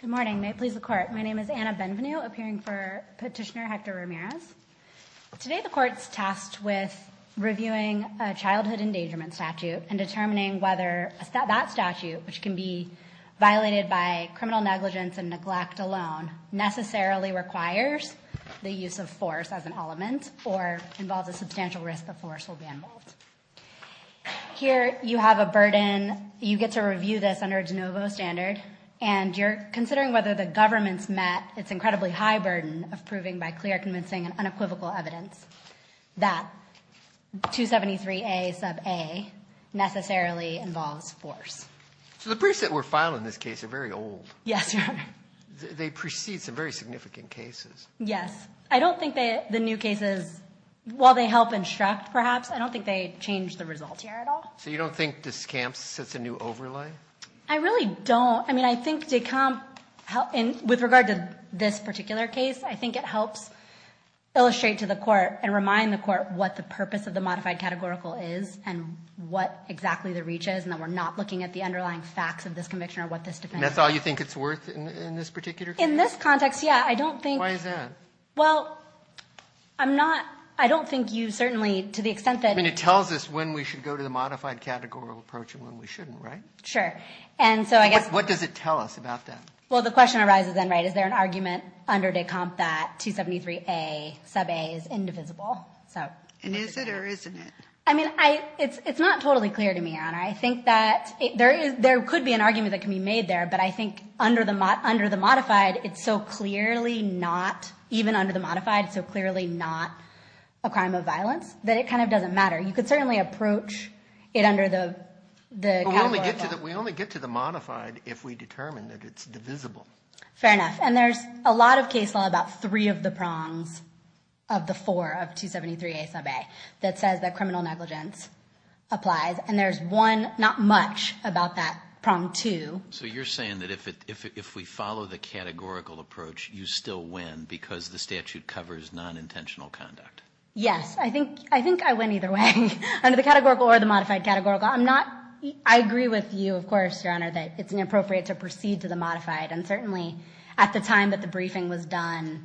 Good morning. May it please the Court. My name is Anna Benvenue, appearing for Petitioner Hector Ramirez. Today the Court's tasked with reviewing a childhood endangerment statute and determining whether that statute, which can be violated by criminal negligence and neglect alone, necessarily requires the use of force as an element or involves a substantial risk of force will be involved. Here you have a burden. You get to review this under a de novo standard, and you're considering whether the government's met its incredibly high burden of proving by clear, convincing, and unequivocal evidence that 273A sub a necessarily involves force. So the briefs that were filed in this case are very old. Yes, Your Honor. They precede some very significant cases. Yes. I don't think the new cases, while they help instruct, perhaps, I don't think they change the results here at all. So you don't think this camp sets a new overlay? I really don't. I mean, I think Decomp, with regard to this particular case, I think it helps illustrate to the Court and remind the Court what the purpose of the modified categorical is and what exactly the reach is, and that we're not looking at the underlying facts of this conviction or what this defense is. And that's all you think it's worth in this particular case? In this context, yeah. I mean, well, I'm not, I don't think you certainly, to the extent that... I mean, it tells us when we should go to the modified categorical approach and when we shouldn't, right? Sure. And so I guess... What does it tell us about that? Well, the question arises then, right, is there an argument under Decomp that 273A sub a is indivisible? And is it or isn't it? I mean, it's not totally clear to me, Your Honor. I think that there could be an argument that can be made there, but I think under the modified, it's so clearly not, even under the modified, it's so clearly not a crime of violence, that it kind of doesn't matter. You could certainly approach it under the categorical. We only get to the modified if we determine that it's divisible. Fair enough. And there's a lot of case law about three of the prongs of the four, of 273A sub a, that says that criminal negligence applies. And there's one, not much, about that prong two. So you're saying that if we follow the statute, covers non-intentional conduct? Yes. I think I went either way, under the categorical or the modified categorical. I agree with you, of course, Your Honor, that it's inappropriate to proceed to the modified. And certainly at the time that the briefing was done,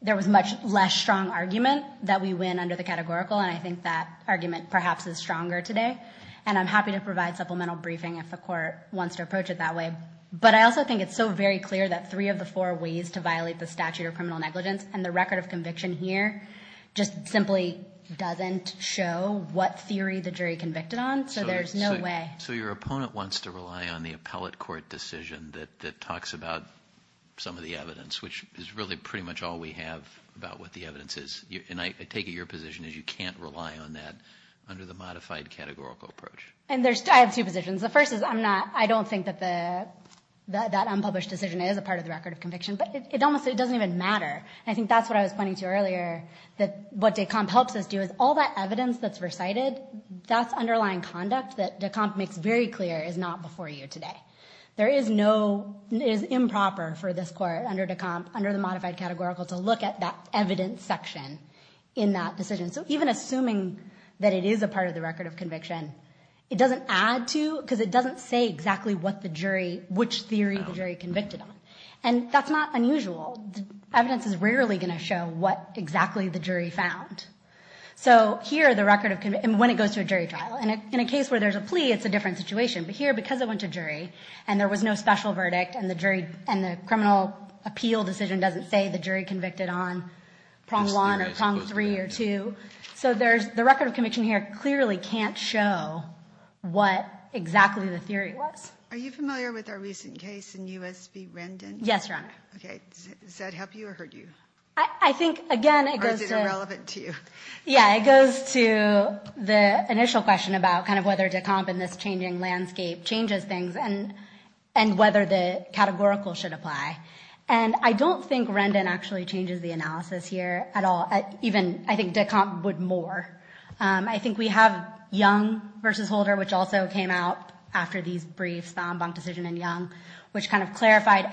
there was much less strong argument that we win under the categorical. And I think that argument perhaps is stronger today. And I'm happy to provide supplemental briefing if the court wants to approach it that way. But I also think it's so very clear that three of the four ways to violate the statute of criminal negligence and the record of conviction here just simply doesn't show what theory the jury convicted on. So there's no way. So your opponent wants to rely on the appellate court decision that talks about some of the evidence, which is really pretty much all we have about what the evidence is. And I take it your position is you can't rely on that under the modified categorical approach. And there's, I have two positions. The first is I'm not, I don't think that the, that unpublished decision is a part of the record of conviction, but it almost, it doesn't even matter. And I think that's what I was pointing to earlier, that what Decomp helps us do is all that evidence that's recited, that's underlying conduct that Decomp makes very clear is not before you today. There is no, it is improper for this court under Decomp, under the modified categorical to look at that evidence section in that decision. So even assuming that it is a part of the record of conviction, it doesn't add to, because it doesn't say exactly what the jury, which theory the jury convicted on. And that's not unusual. Evidence is rarely going to show what exactly the jury found. So here, the record of, and when it goes to a jury trial, and in a case where there's a plea, it's a different situation. But here, because it went to jury and there was no special verdict and the jury, and the criminal appeal decision doesn't say the jury convicted on prong one or prong three or two. So there's, the record of conviction here clearly can't show what exactly the theory was. Are you familiar with our recent case in U.S. v. Rendon? Yes, Your Honor. Okay. Does that help you or hurt you? I think, again, it goes to... Or is it irrelevant to you? Yeah, it goes to the initial question about kind of whether Decomp in this changing landscape changes things and whether the categorical should apply. And I don't think Rendon actually changes the analysis here at all. Even, I think Decomp would more. I think we have Young v. Holder, which also came out after these briefs, the en banc decision in Young, which kind of clarified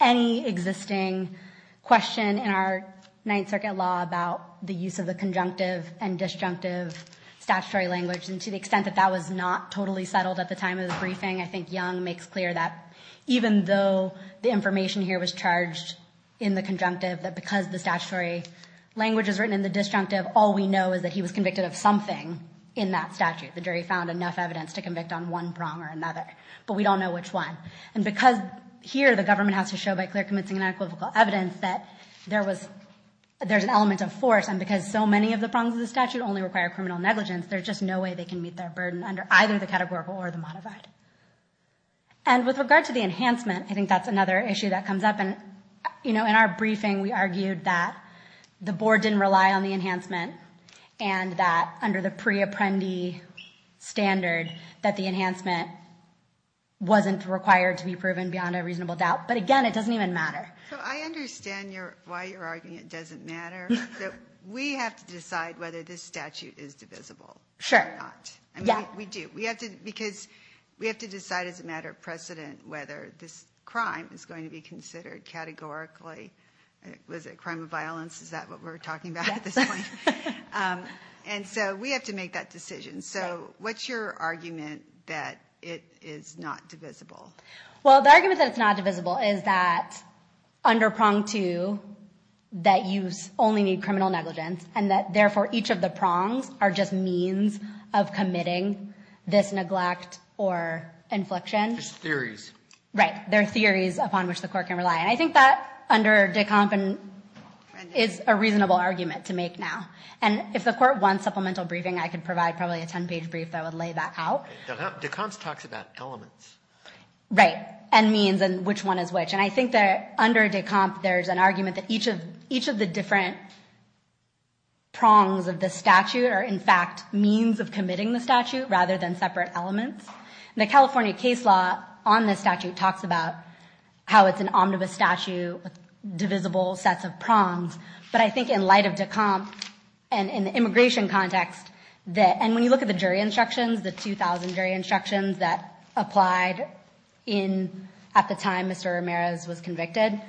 any existing question in our Ninth Circuit law about the use of the conjunctive and disjunctive statutory language. And to the extent that that was not totally settled at the time of the briefing, I think Young makes clear that even though the information here was charged in the conjunctive, that because the statutory language is written in the disjunctive, all we know is that he was convicted of something in that statute. The jury found enough evidence to convict on one prong or another, but we don't know which one. And because here the government has to show by clear convincing and equivocal evidence that there's an element of force, and because so many of the prongs of the statute only require criminal negligence, there's just no way they can meet their burden under either the categorical or the modified. And with regard to the enhancement, I think that's another issue that comes up. And, you know, in our briefing, we argued that the board didn't rely on the enhancement and that under the pre-apprendee standard, that the enhancement wasn't required to be proven beyond a reasonable doubt. But again, it doesn't even matter. So I understand why you're arguing it doesn't matter. We have to decide whether this statute is divisible or not. Sure. Yeah. We do. We have to because we have to decide as a matter of precedent whether this crime is going to be considered categorically. Was it a crime of violence? Is that what we're talking about at this point? And so we have to make that decision. So what's your argument that it is not divisible? Well, the argument that it's not divisible is that under prong two, that you only need a presumption of committing this neglect or infliction. Just theories. Right. There are theories upon which the court can rely. And I think that under de Camp is a reasonable argument to make now. And if the court wants supplemental briefing, I could provide probably a 10-page brief that would lay that out. De Camp talks about elements. Right. And means and which one is which. And I think that under de Camp, there's an argument that each of each of the different prongs of the statute are, in fact, means of committing the statute rather than separate elements. The California case law on this statute talks about how it's an omnibus statute with divisible sets of prongs. But I think in light of de Camp and in the immigration context that and when you look at the jury instructions, the 2000 jury instructions that applied in at the time Mr. Ramirez was convicted,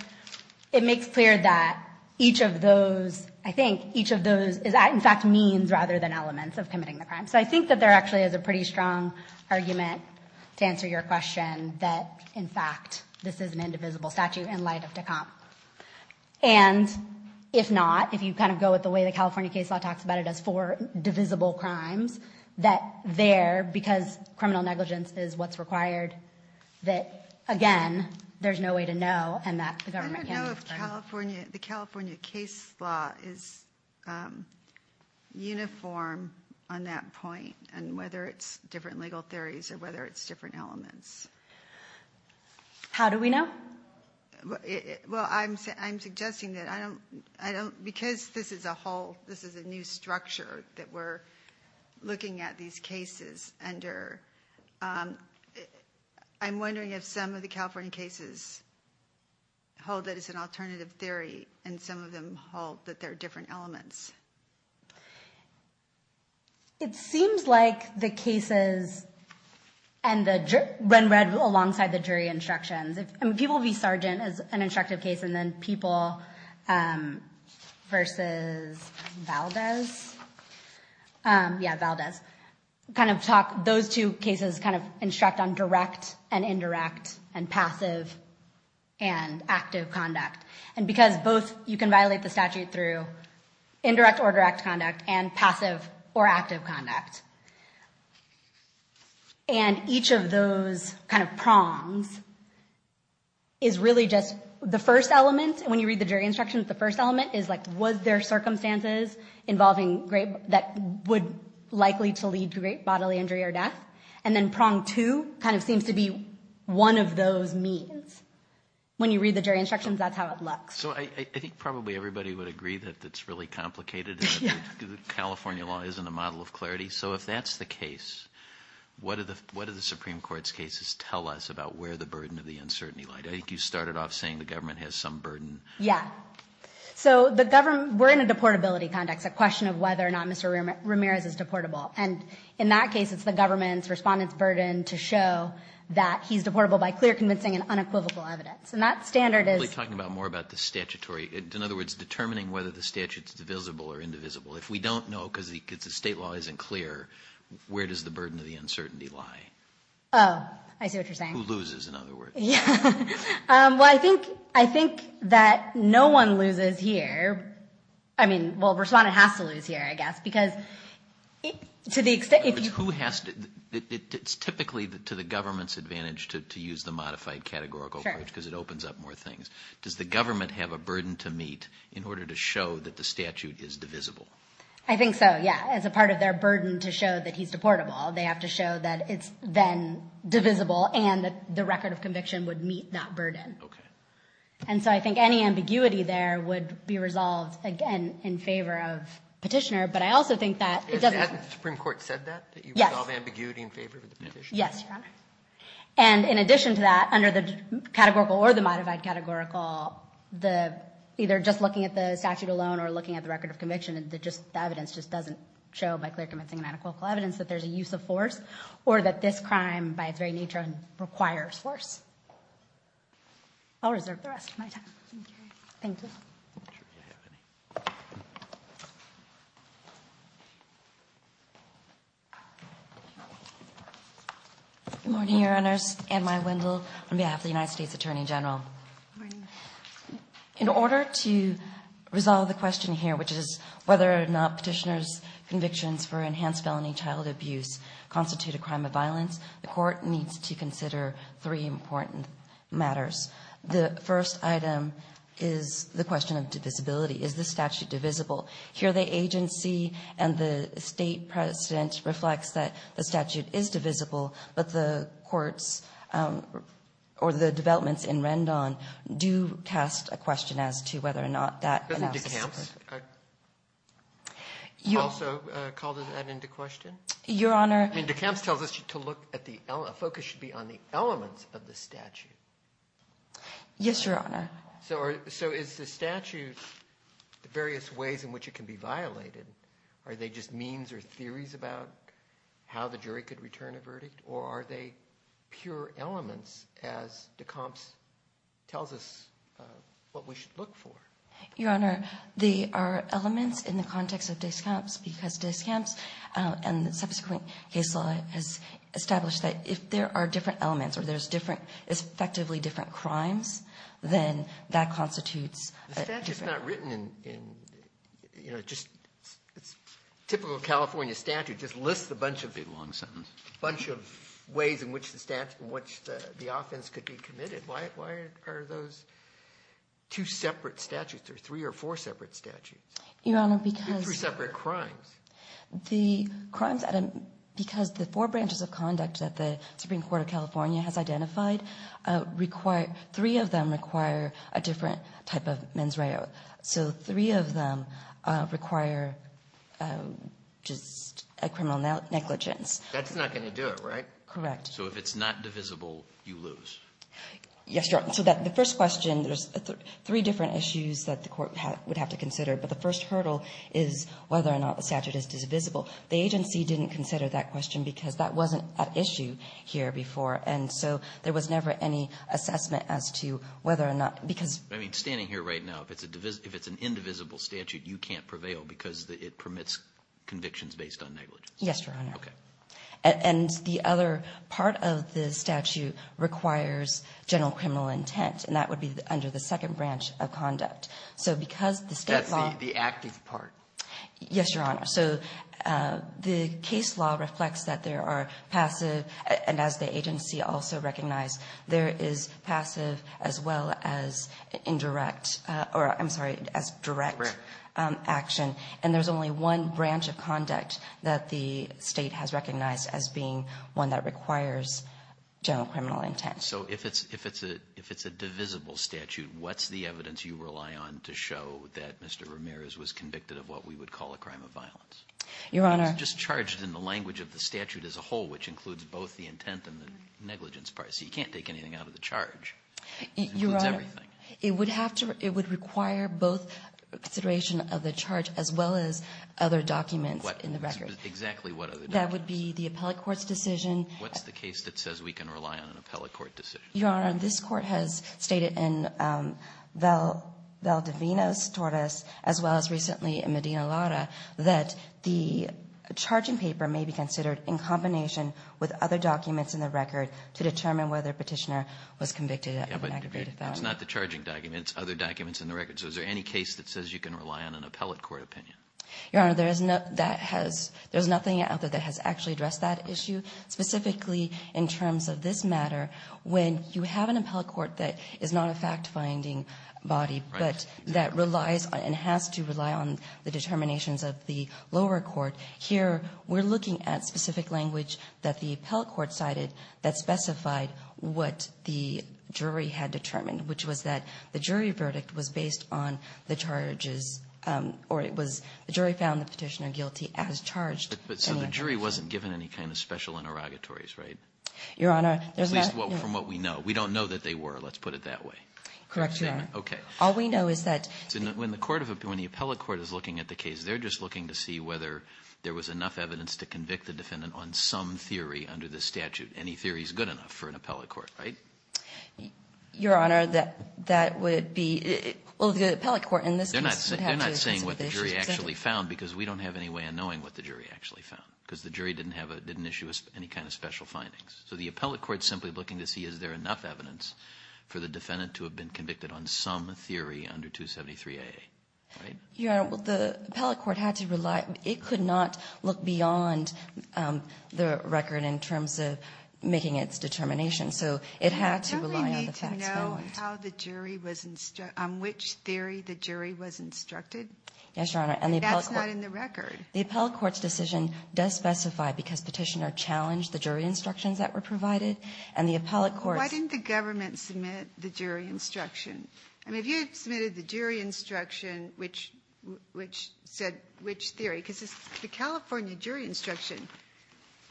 it makes clear that each of those, I think each of those is in fact means rather than elements of committing the crime. So I think that there actually is a pretty strong argument to answer your question that in fact, this is an indivisible statute in light of de Camp. And if not, if you kind of go with the way the California case law talks about it as four divisible crimes, that there, because criminal negligence is what's required, that, again, there's no way to know. And that the government, California, the California case law is uniform on that point. And whether it's different legal theories or whether it's different elements. How do we know? Well, I'm I'm suggesting that I don't I don't because this is a whole this is a new structure that we're looking at these cases under. I'm wondering if some of the California cases hold that as an alternative theory and some of them hold that there are different elements. It seems like the cases and the run red alongside the jury instructions, people will be sergeant as an instructive case and then people versus Valdez. Yeah, Valdez kind of talk those two cases kind of instruct on direct and indirect and passive and active conduct. And because both you can violate the statute through indirect or direct conduct and passive or active conduct. And each of those kind of prongs is really just the first element. When you read the jury instructions, the first element is like, was there circumstances involving that would likely to lead to great bodily injury or death? And then prong to kind of seems to be one of those means. When you read the jury instructions, that's how it looks. So I think probably everybody would agree that that's really complicated. California law isn't a model of clarity. So if that's the case, what are the what are the Supreme Court's cases tell us about where the burden of the uncertainty like you started off saying the government has some burden? Yeah. So the government we're in a deportability context, a question of whether or not Mr. Ramirez is deportable. And in that case, it's the government's respondents burden to show that he's deportable by clear, convincing and unequivocal evidence. And that standard is talking about more about the statutory. In other words, determining whether the statute's divisible or indivisible. If we don't know because the state law isn't clear, where does the burden of the uncertainty lie? Oh, I see what you're saying. Who loses, in other words. Yeah, well, I think I think that no one loses here. I mean, well, respondent has to lose here, I guess, because to the extent who has to. It's typically to the government's advantage to use the modified categorical approach because it opens up more things. Does the government have a burden to meet in order to show that the statute is divisible? I think so. Yeah. As a part of their burden to show that he's deportable, they have to show that it's then divisible and that the record of conviction would meet that burden. OK. And so I think any ambiguity there would be resolved, again, in favor of petitioner. But I also think that it doesn't. Hasn't the Supreme Court said that? That you resolve ambiguity in favor of the petitioner? Yes, Your Honor. And in addition to that, under the categorical or the modified categorical, the either just looking at the statute alone or looking at the record of conviction, that just the evidence just doesn't show by clear, convincing and unequivocal evidence that there's a use of force or that this crime by its very nature requires force. I'll reserve the rest of my time. Thank you. Good morning, Your Honors. Anne-Mai Wendel on behalf of the United States Attorney General. In order to resolve the question here, which is whether or not petitioner's convictions for enhanced felony child abuse constitute a crime of violence, the court needs to consider three important matters. The first item is the question of divisibility. Is the statute divisible? Here, the agency and the state president reflects that the statute is divisible, but the courts or the developments in Rendon do cast a question as to whether or not that. I also call that into question. Your Honor. I mean, DeCamps tells us to look at the focus should be on the elements of the statute. Yes, Your Honor. So is the statute the various ways in which it can be violated? Are they just means or theories about how the jury could return a verdict? Or are they pure elements as DeCamps tells us what we should look for? Your Honor, they are elements in the context of DeCamps because DeCamps and the subsequent case law has established that if there are different elements or there's different, effectively different crimes, then that constitutes. The statute's not written in, you know, just typical California statute just lists a bunch of big long sentences, a bunch of ways in which the statute, in which the offense could be three or four separate statutes. Your Honor, because... Three separate crimes. The crimes, because the four branches of conduct that the Supreme Court of California has identified require, three of them require a different type of mens reo. So three of them require just a criminal negligence. That's not going to do it, right? Correct. So if it's not divisible, you lose. Yes, Your Honor. The first question, there's three different issues that the court would have to consider, but the first hurdle is whether or not the statute is divisible. The agency didn't consider that question because that wasn't an issue here before, and so there was never any assessment as to whether or not, because... I mean, standing here right now, if it's an indivisible statute, you can't prevail because it permits convictions based on negligence. Yes, Your Honor. Okay. And the other part of the statute requires general criminal intent, and that would be under the second branch of conduct. So because the state law... That's the acting part. Yes, Your Honor. So the case law reflects that there are passive, and as the agency also recognized, there is passive as well as indirect, or I'm sorry, as direct action. And there's only one branch of conduct that the state has recognized as being one that requires general criminal intent. So if it's a divisible statute, what's the evidence you rely on to show that Mr. Ramirez was convicted of what we would call a crime of violence? Your Honor... Just charged in the language of the statute as a whole, which includes both the intent and the negligence part. So you can't take anything out of the charge. Your Honor, it would have to... Both consideration of the charge as well as other documents in the record. Exactly what other documents? That would be the appellate court's decision. What's the case that says we can rely on an appellate court decision? Your Honor, this court has stated in Valdevinas-Torres, as well as recently in Medina-Lara, that the charging paper may be considered in combination with other documents in the record to determine whether Petitioner was convicted of an aggravated felony. Yeah, but it's not the charging documents. It's other documents in the record. Is there any case that says you can rely on an appellate court opinion? Your Honor, there's nothing out there that has actually addressed that issue. Specifically, in terms of this matter, when you have an appellate court that is not a fact-finding body, but that relies and has to rely on the determinations of the lower court. Here, we're looking at specific language that the appellate court cited that specified what the jury had determined, which was that the jury verdict was based on the charges, or it was the jury found the Petitioner guilty as charged. But so the jury wasn't given any kind of special interrogatories, right? Your Honor, there's not... At least from what we know. We don't know that they were. Let's put it that way. Correct, Your Honor. Okay. All we know is that... When the appellate court is looking at the case, they're just looking to see whether there was enough evidence to convict the defendant on some theory under the statute. Any theory is good enough for an appellate court, right? Your Honor, that would be... Well, the appellate court in this case... They're not saying what the jury actually found because we don't have any way of knowing what the jury actually found because the jury didn't issue us any kind of special findings. So the appellate court is simply looking to see is there enough evidence for the defendant to have been convicted on some theory under 273a, right? Your Honor, well, the appellate court had to rely... It could not look beyond the record in terms of making its determination. So it had to rely on the facts. Do we need to know on which theory the jury was instructed? Yes, Your Honor. And that's not in the record. The appellate court's decision does specify because petitioner challenged the jury instructions that were provided. And the appellate court... Why didn't the government submit the jury instruction? I mean, if you had submitted the jury instruction which said which theory... Because the California jury instruction,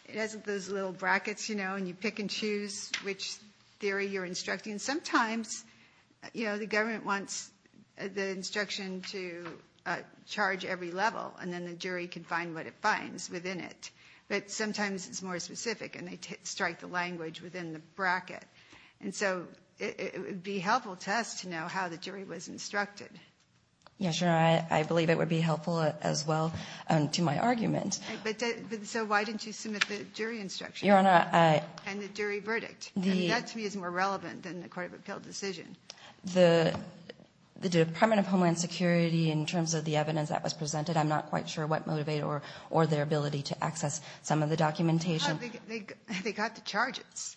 it has those little brackets, you know, when you pick and choose which theory you're instructing. Sometimes, you know, the government wants the instruction to charge every level and then the jury can find what it finds within it. But sometimes it's more specific and they strike the language within the bracket. And so it would be helpful to us to know how the jury was instructed. Yes, Your Honor, I believe it would be helpful as well to my argument. So why didn't you submit the jury instruction? And the jury verdict. That to me is more relevant than the Court of Appeal decision. The Department of Homeland Security, in terms of the evidence that was presented, I'm not quite sure what motivated or their ability to access some of the documentation. They got the charges.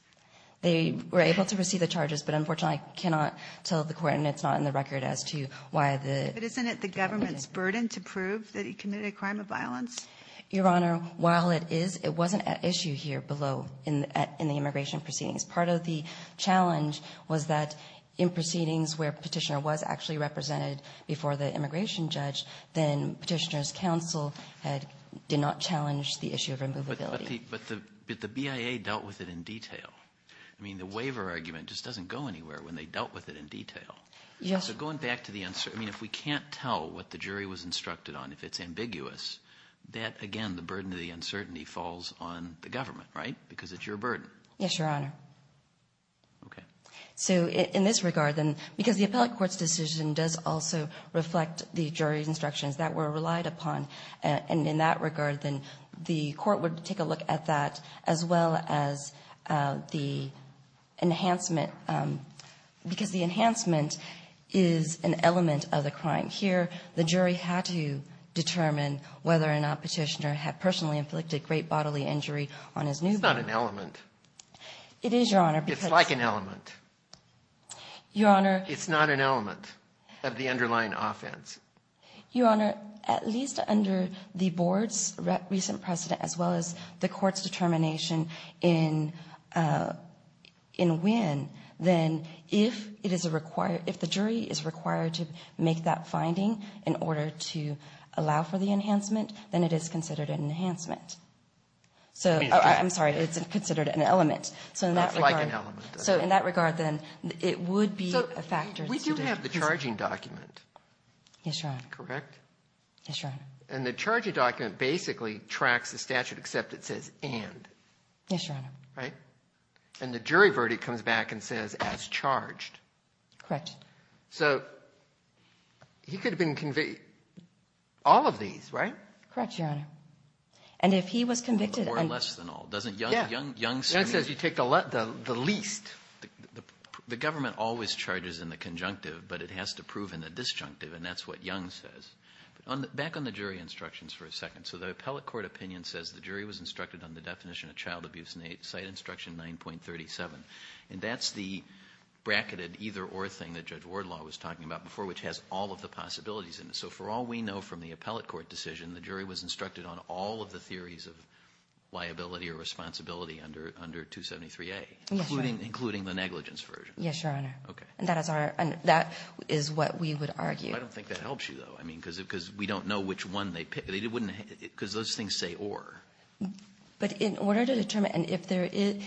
They were able to receive the charges, but unfortunately, I cannot tell the court and it's not in the record as to why the... But isn't it the government's burden to prove that he committed a crime of violence? Your Honor, while it is, it wasn't an issue here below in the immigration proceedings. Part of the challenge was that in proceedings where Petitioner was actually represented before the immigration judge, then Petitioner's counsel did not challenge the issue of immovability. But the BIA dealt with it in detail. I mean, the waiver argument just doesn't go anywhere when they dealt with it in detail. Yes. So going back to the answer, I mean, if we can't tell what the jury was instructed on, if it's ambiguous, that again, the burden of the uncertainty falls on the government, right? Because it's your burden. Yes, Your Honor. Okay. So in this regard, then, because the appellate court's decision does also reflect the jury's instructions that were relied upon. And in that regard, then the court would take a look at that as well as the enhancement, because the enhancement is an element of the crime. Here, the jury had to determine whether or not Petitioner had personally inflicted great bodily injury on his newborn. It's not an element. It is, Your Honor. It's like an element. Your Honor. It's not an element of the underlying offense. Your Honor, at least under the board's recent precedent as well as the court's determination in Winn, then if the jury is required to make that finding in order to allow for the enhancement, then it is considered an enhancement. So, I'm sorry, it's considered an element. So in that regard, then, it would be a factor. We do have the charging document. Yes, Your Honor. Correct? Yes, Your Honor. And the charging document basically tracks the statute except it says, and. Yes, Your Honor. Right? And the jury verdict comes back and says, as charged. Correct. So he could have been convicted, all of these, right? Correct, Your Honor. And if he was convicted. Or less than all. Doesn't Young say? Young says you take the least. The government always charges in the conjunctive, but it has to prove in the disjunctive, and that's what Young says. Back on the jury instructions for a second. So the appellate court opinion says the jury was instructed on the definition of child abuse site instruction 9.37. And that's the bracketed either or thing that Judge Wardlaw was talking about before, which has all of the possibilities in it. So for all we know from the appellate court decision, the jury was instructed on all of the theories of liability or responsibility under 273A. Yes, Your Honor. Including the negligence version. Yes, Your Honor. Okay. And that is what we would argue. I don't think that helps you, though. I mean, because we don't know which one they pick. Because those things say or. But in order to determine, and if there is,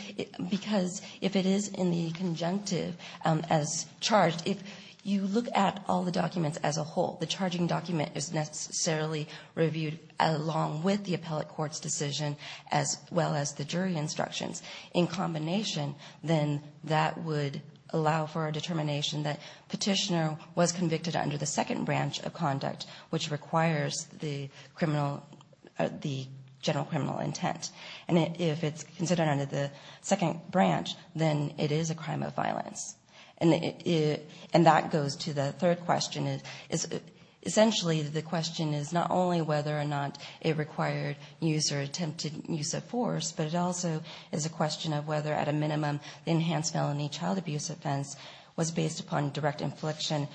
because if it is in the conjunctive as charged, if you look at all the documents as a whole, the charging document is necessarily reviewed along with the appellate court's decision as well as the jury instructions in combination, then that would allow for a determination that Petitioner was convicted under the second branch of conduct, which requires the general criminal intent. And if it's considered under the second branch, then it is a crime of violence. And that goes to the third question. Essentially, the question is not only whether or not it required use or attempted use of force, but it also is a question of whether, at a minimum, the enhanced felony child abuse offense was based upon direct infliction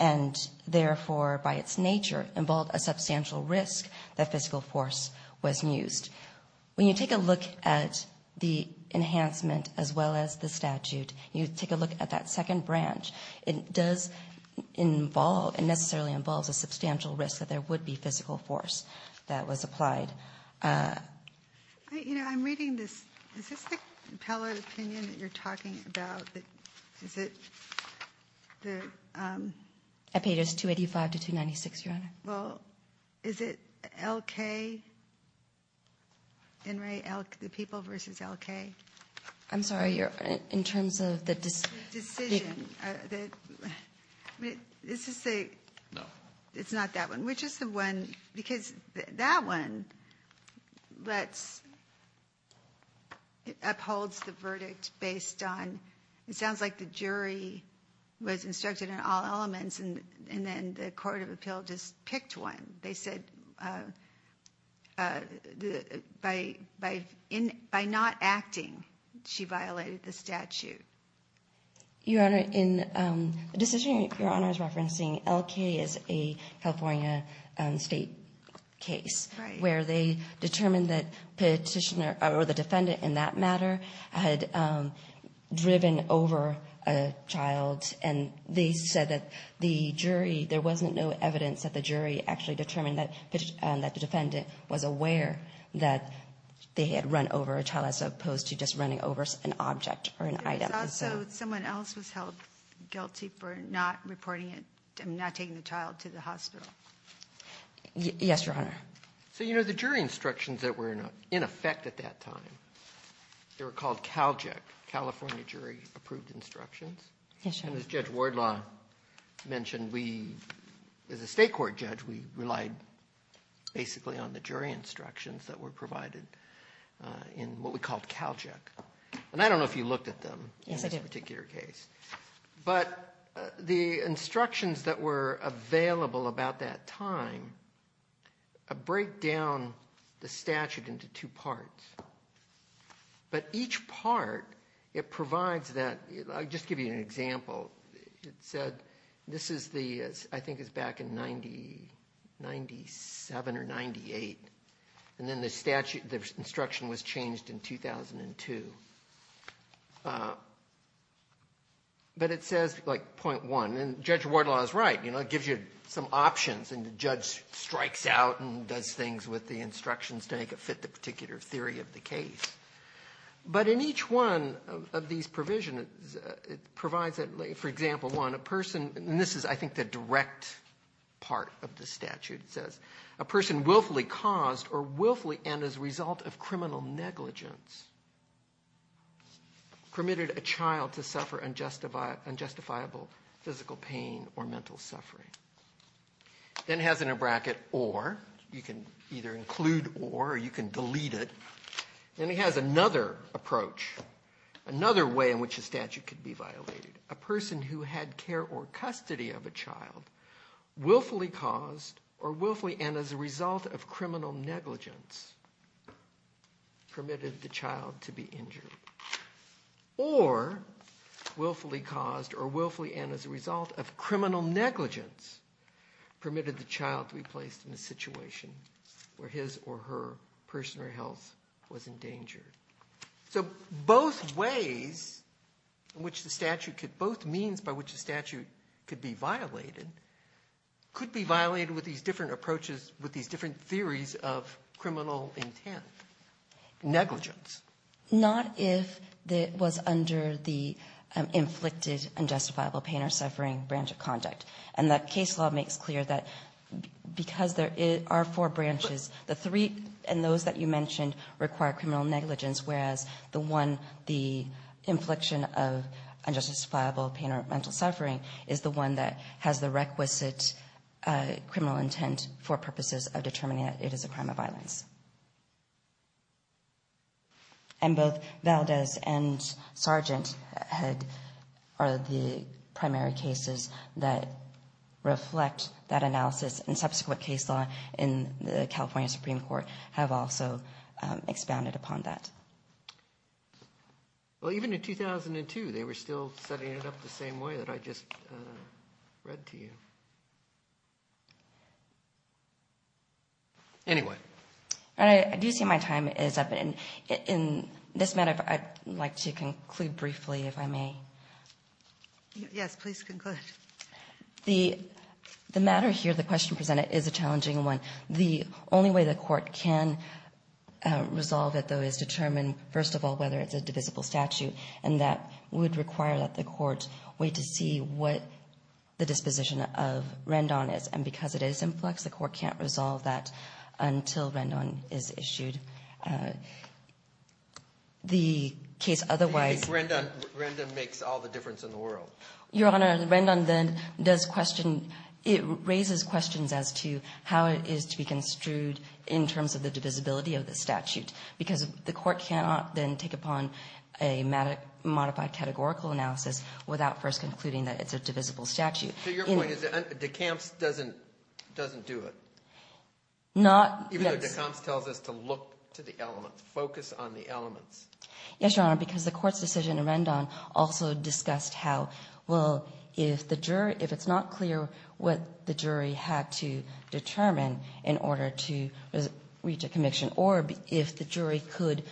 and, therefore, by its nature, involved a substantial risk that physical force was used. When you take a look at the enhancement as well as the statute, you take a look at that second branch, it does involve and necessarily involves a substantial risk that there would be physical force that was applied. You know, I'm reading this. Is this the appellate opinion that you're talking about? Is it the? I paid us $285 to $296, Your Honor. Well, is it L-K? N-Ray, the people versus L-K? I'm sorry. You're in terms of the decision. The decision. This is the. It's not that one. Which is the one? Because that one, it upholds the verdict based on, it sounds like the jury was instructed in all elements and then the court of appeal just picked one. They said by not acting, she violated the statute. Your Honor, in the decision, Your Honor is referencing L-K as a California state case where they determined that the petitioner or the defendant in that matter had driven over a child and they said that the jury, there wasn't no evidence that the jury actually determined that the defendant was aware that they had run over a child as opposed to just running over an object or an item. Someone else was held guilty for not reporting it, not taking the child to the hospital. Yes, Your Honor. So, you know, the jury instructions that were in effect at that time, they were called CALJEC, California Jury Approved Instructions. Yes, Your Honor. As Judge Wardlaw mentioned, we, as a state court judge, we relied basically on the jury instructions that were provided in what we called CALJEC. And I don't know if you looked at them in this particular case. Yes, I did. But the instructions that were available about that time break down the statute into two parts, but each part, it provides that, I'll just give you an example. It said, this is the, I think it's back in 97 or 98, and then the statute, the instruction was changed in 2002. But it says, like, point one, and Judge Wardlaw is right, you know, it gives you some options, and the judge strikes out and does things with the instructions to make it fit the particular theory of the case. But in each one of these provisions, it provides that, for example, one, a person, and this is, I think, the direct part of the statute, it says, a person willfully caused or willfully, and as a result of criminal negligence, permitted a child to suffer unjustifiable physical pain or mental suffering. Then it has in a bracket, or. You can either include or, or you can delete it. Then it has another approach, another way in which a statute could be violated. A person who had care or custody of a child willfully caused or willfully, and as a result of criminal negligence, permitted the child to be injured. Or willfully caused or willfully, and as a result of criminal negligence, permitted the child to be placed in a situation where his or her personal health was in danger. So both ways in which the statute could, both means by which the statute could be violated could be violated with these different approaches, with these different theories of criminal intent. Negligence. Not if it was under the inflicted unjustifiable pain or suffering branch of conduct. And that case law makes clear that because there are four branches, the three and those that you mentioned require criminal negligence, whereas the one, the infliction of unjustifiable pain or mental suffering is the one that has the requisite criminal intent for purposes of determining that it is a crime of violence. And both Valdez and Sargent had, are the primary cases that reflect that analysis and subsequent case law in the California Supreme Court have also expounded upon that. Well, even in 2002, they were still setting it up the same way that I just read to you. Anyway. And I do see my time is up. And in this matter, I'd like to conclude briefly, if I may. Yes, please conclude. The matter here, the question presented is a challenging one. The only way the court can resolve it, though, is determine, first of all, whether it's a divisible statute. And that would require that the court wait to see what the disposition of Rendon is. And because it is influx, the court can't resolve that until Rendon is issued. The case otherwise. Your Honor, Rendon then does question, it raises questions as to how it is to be construed in terms of the divisibility of the statute. Because the court cannot then take upon a modified categorical analysis without first concluding that it's a divisible statute. So your point is that DeCamps doesn't do it? Not, yes. Even though DeCamps tells us to look to the elements, focus on the elements. Yes, Your Honor, because the court's decision in Rendon also discussed how, well, if it's not clear what the jury had to determine in order to reach a conviction, or if the jury could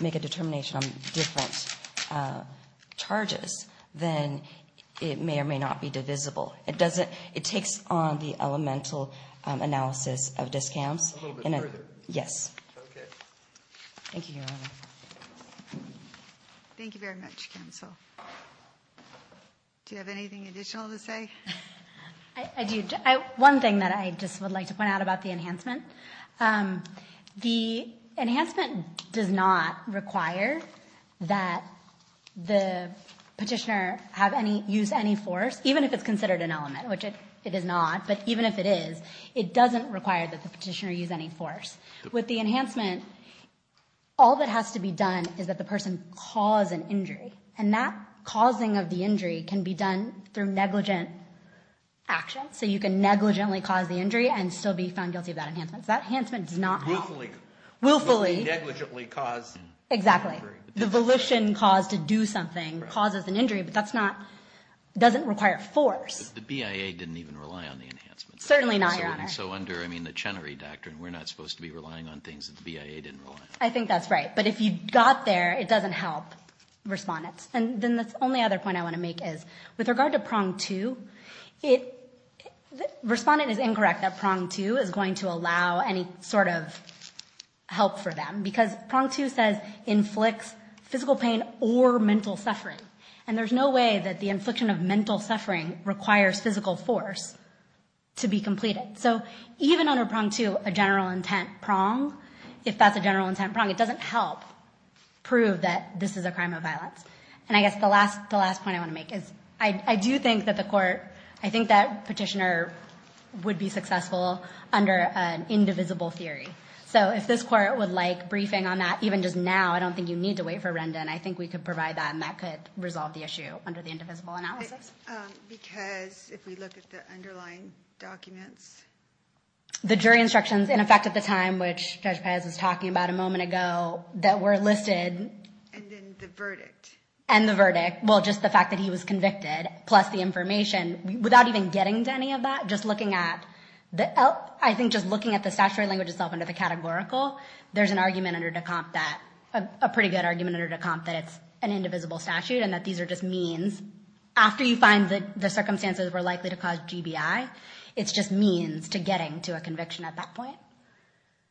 make a determination on different charges, then it may or may not be divisible. It takes on the elemental analysis of DeCamps. A little bit further. Yes. Thank you, Your Honor. Thank you very much, counsel. Do you have anything additional to say? One thing that I just would like to point out about the enhancement. The enhancement does not require that the petitioner use any force, even if it's considered an element, which it is not. But even if it is, it doesn't require that the petitioner use any force. With the enhancement, all that has to be done is that the person cause an injury. And that causing of the injury can be done through negligent action. So you can negligently cause the injury and still be found guilty of that enhancement. That enhancement does not help. Willfully. Willfully. Negligently cause an injury. Exactly. The volition caused to do something causes an injury, but that's not, doesn't require force. The BIA didn't even rely on the enhancement. Certainly not, Your Honor. So under, I mean, the Chenery Doctrine, we're not supposed to be relying on things that the BIA didn't rely on. I think that's right. But if you got there, it doesn't help respondents. And then the only other point I want to make is, with regard to prong two, respondent is incorrect that prong two is going to allow any sort of help for them. Because prong two says inflicts physical pain or mental suffering. And there's no way that the infliction of mental suffering requires physical force to be completed. So even under prong two, a general intent prong, if that's a general intent prong, it doesn't help prove that this is a crime of violence. And I guess the last point I want to make is, I do think that the court, I think that petitioner would be successful under an indivisible theory. So if this court would like briefing on that, even just now, I don't think you need to wait for Renda, and I think we could provide that, and that could resolve the issue under the indivisible analysis. Because if we look at the underlying documents. The jury instructions, in effect, at the time, which Judge Pez was talking about a moment ago, that were listed. And then the verdict. And the verdict. Well, just the fact that he was convicted, plus the information, without even getting to any of that, just looking at the, I think just looking at the statutory language itself under the categorical, there's an argument under Decomp that, a pretty good argument under Decomp that it's an indivisible statute, and that these are just means. After you find that the circumstances were likely to cause GBI, it's just means to getting to a conviction at that point.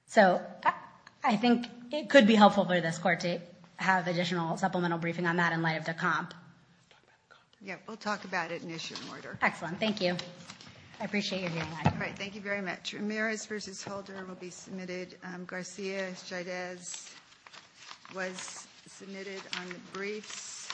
So I think it could be helpful for this court to have additional supplemental briefing on that in light of Decomp. Yeah, we'll talk about it in issue order. Excellent, thank you. I appreciate your doing that. All right, thank you very much. Ramirez versus Holder will be submitted. Garcia-Chavez was submitted on the briefs.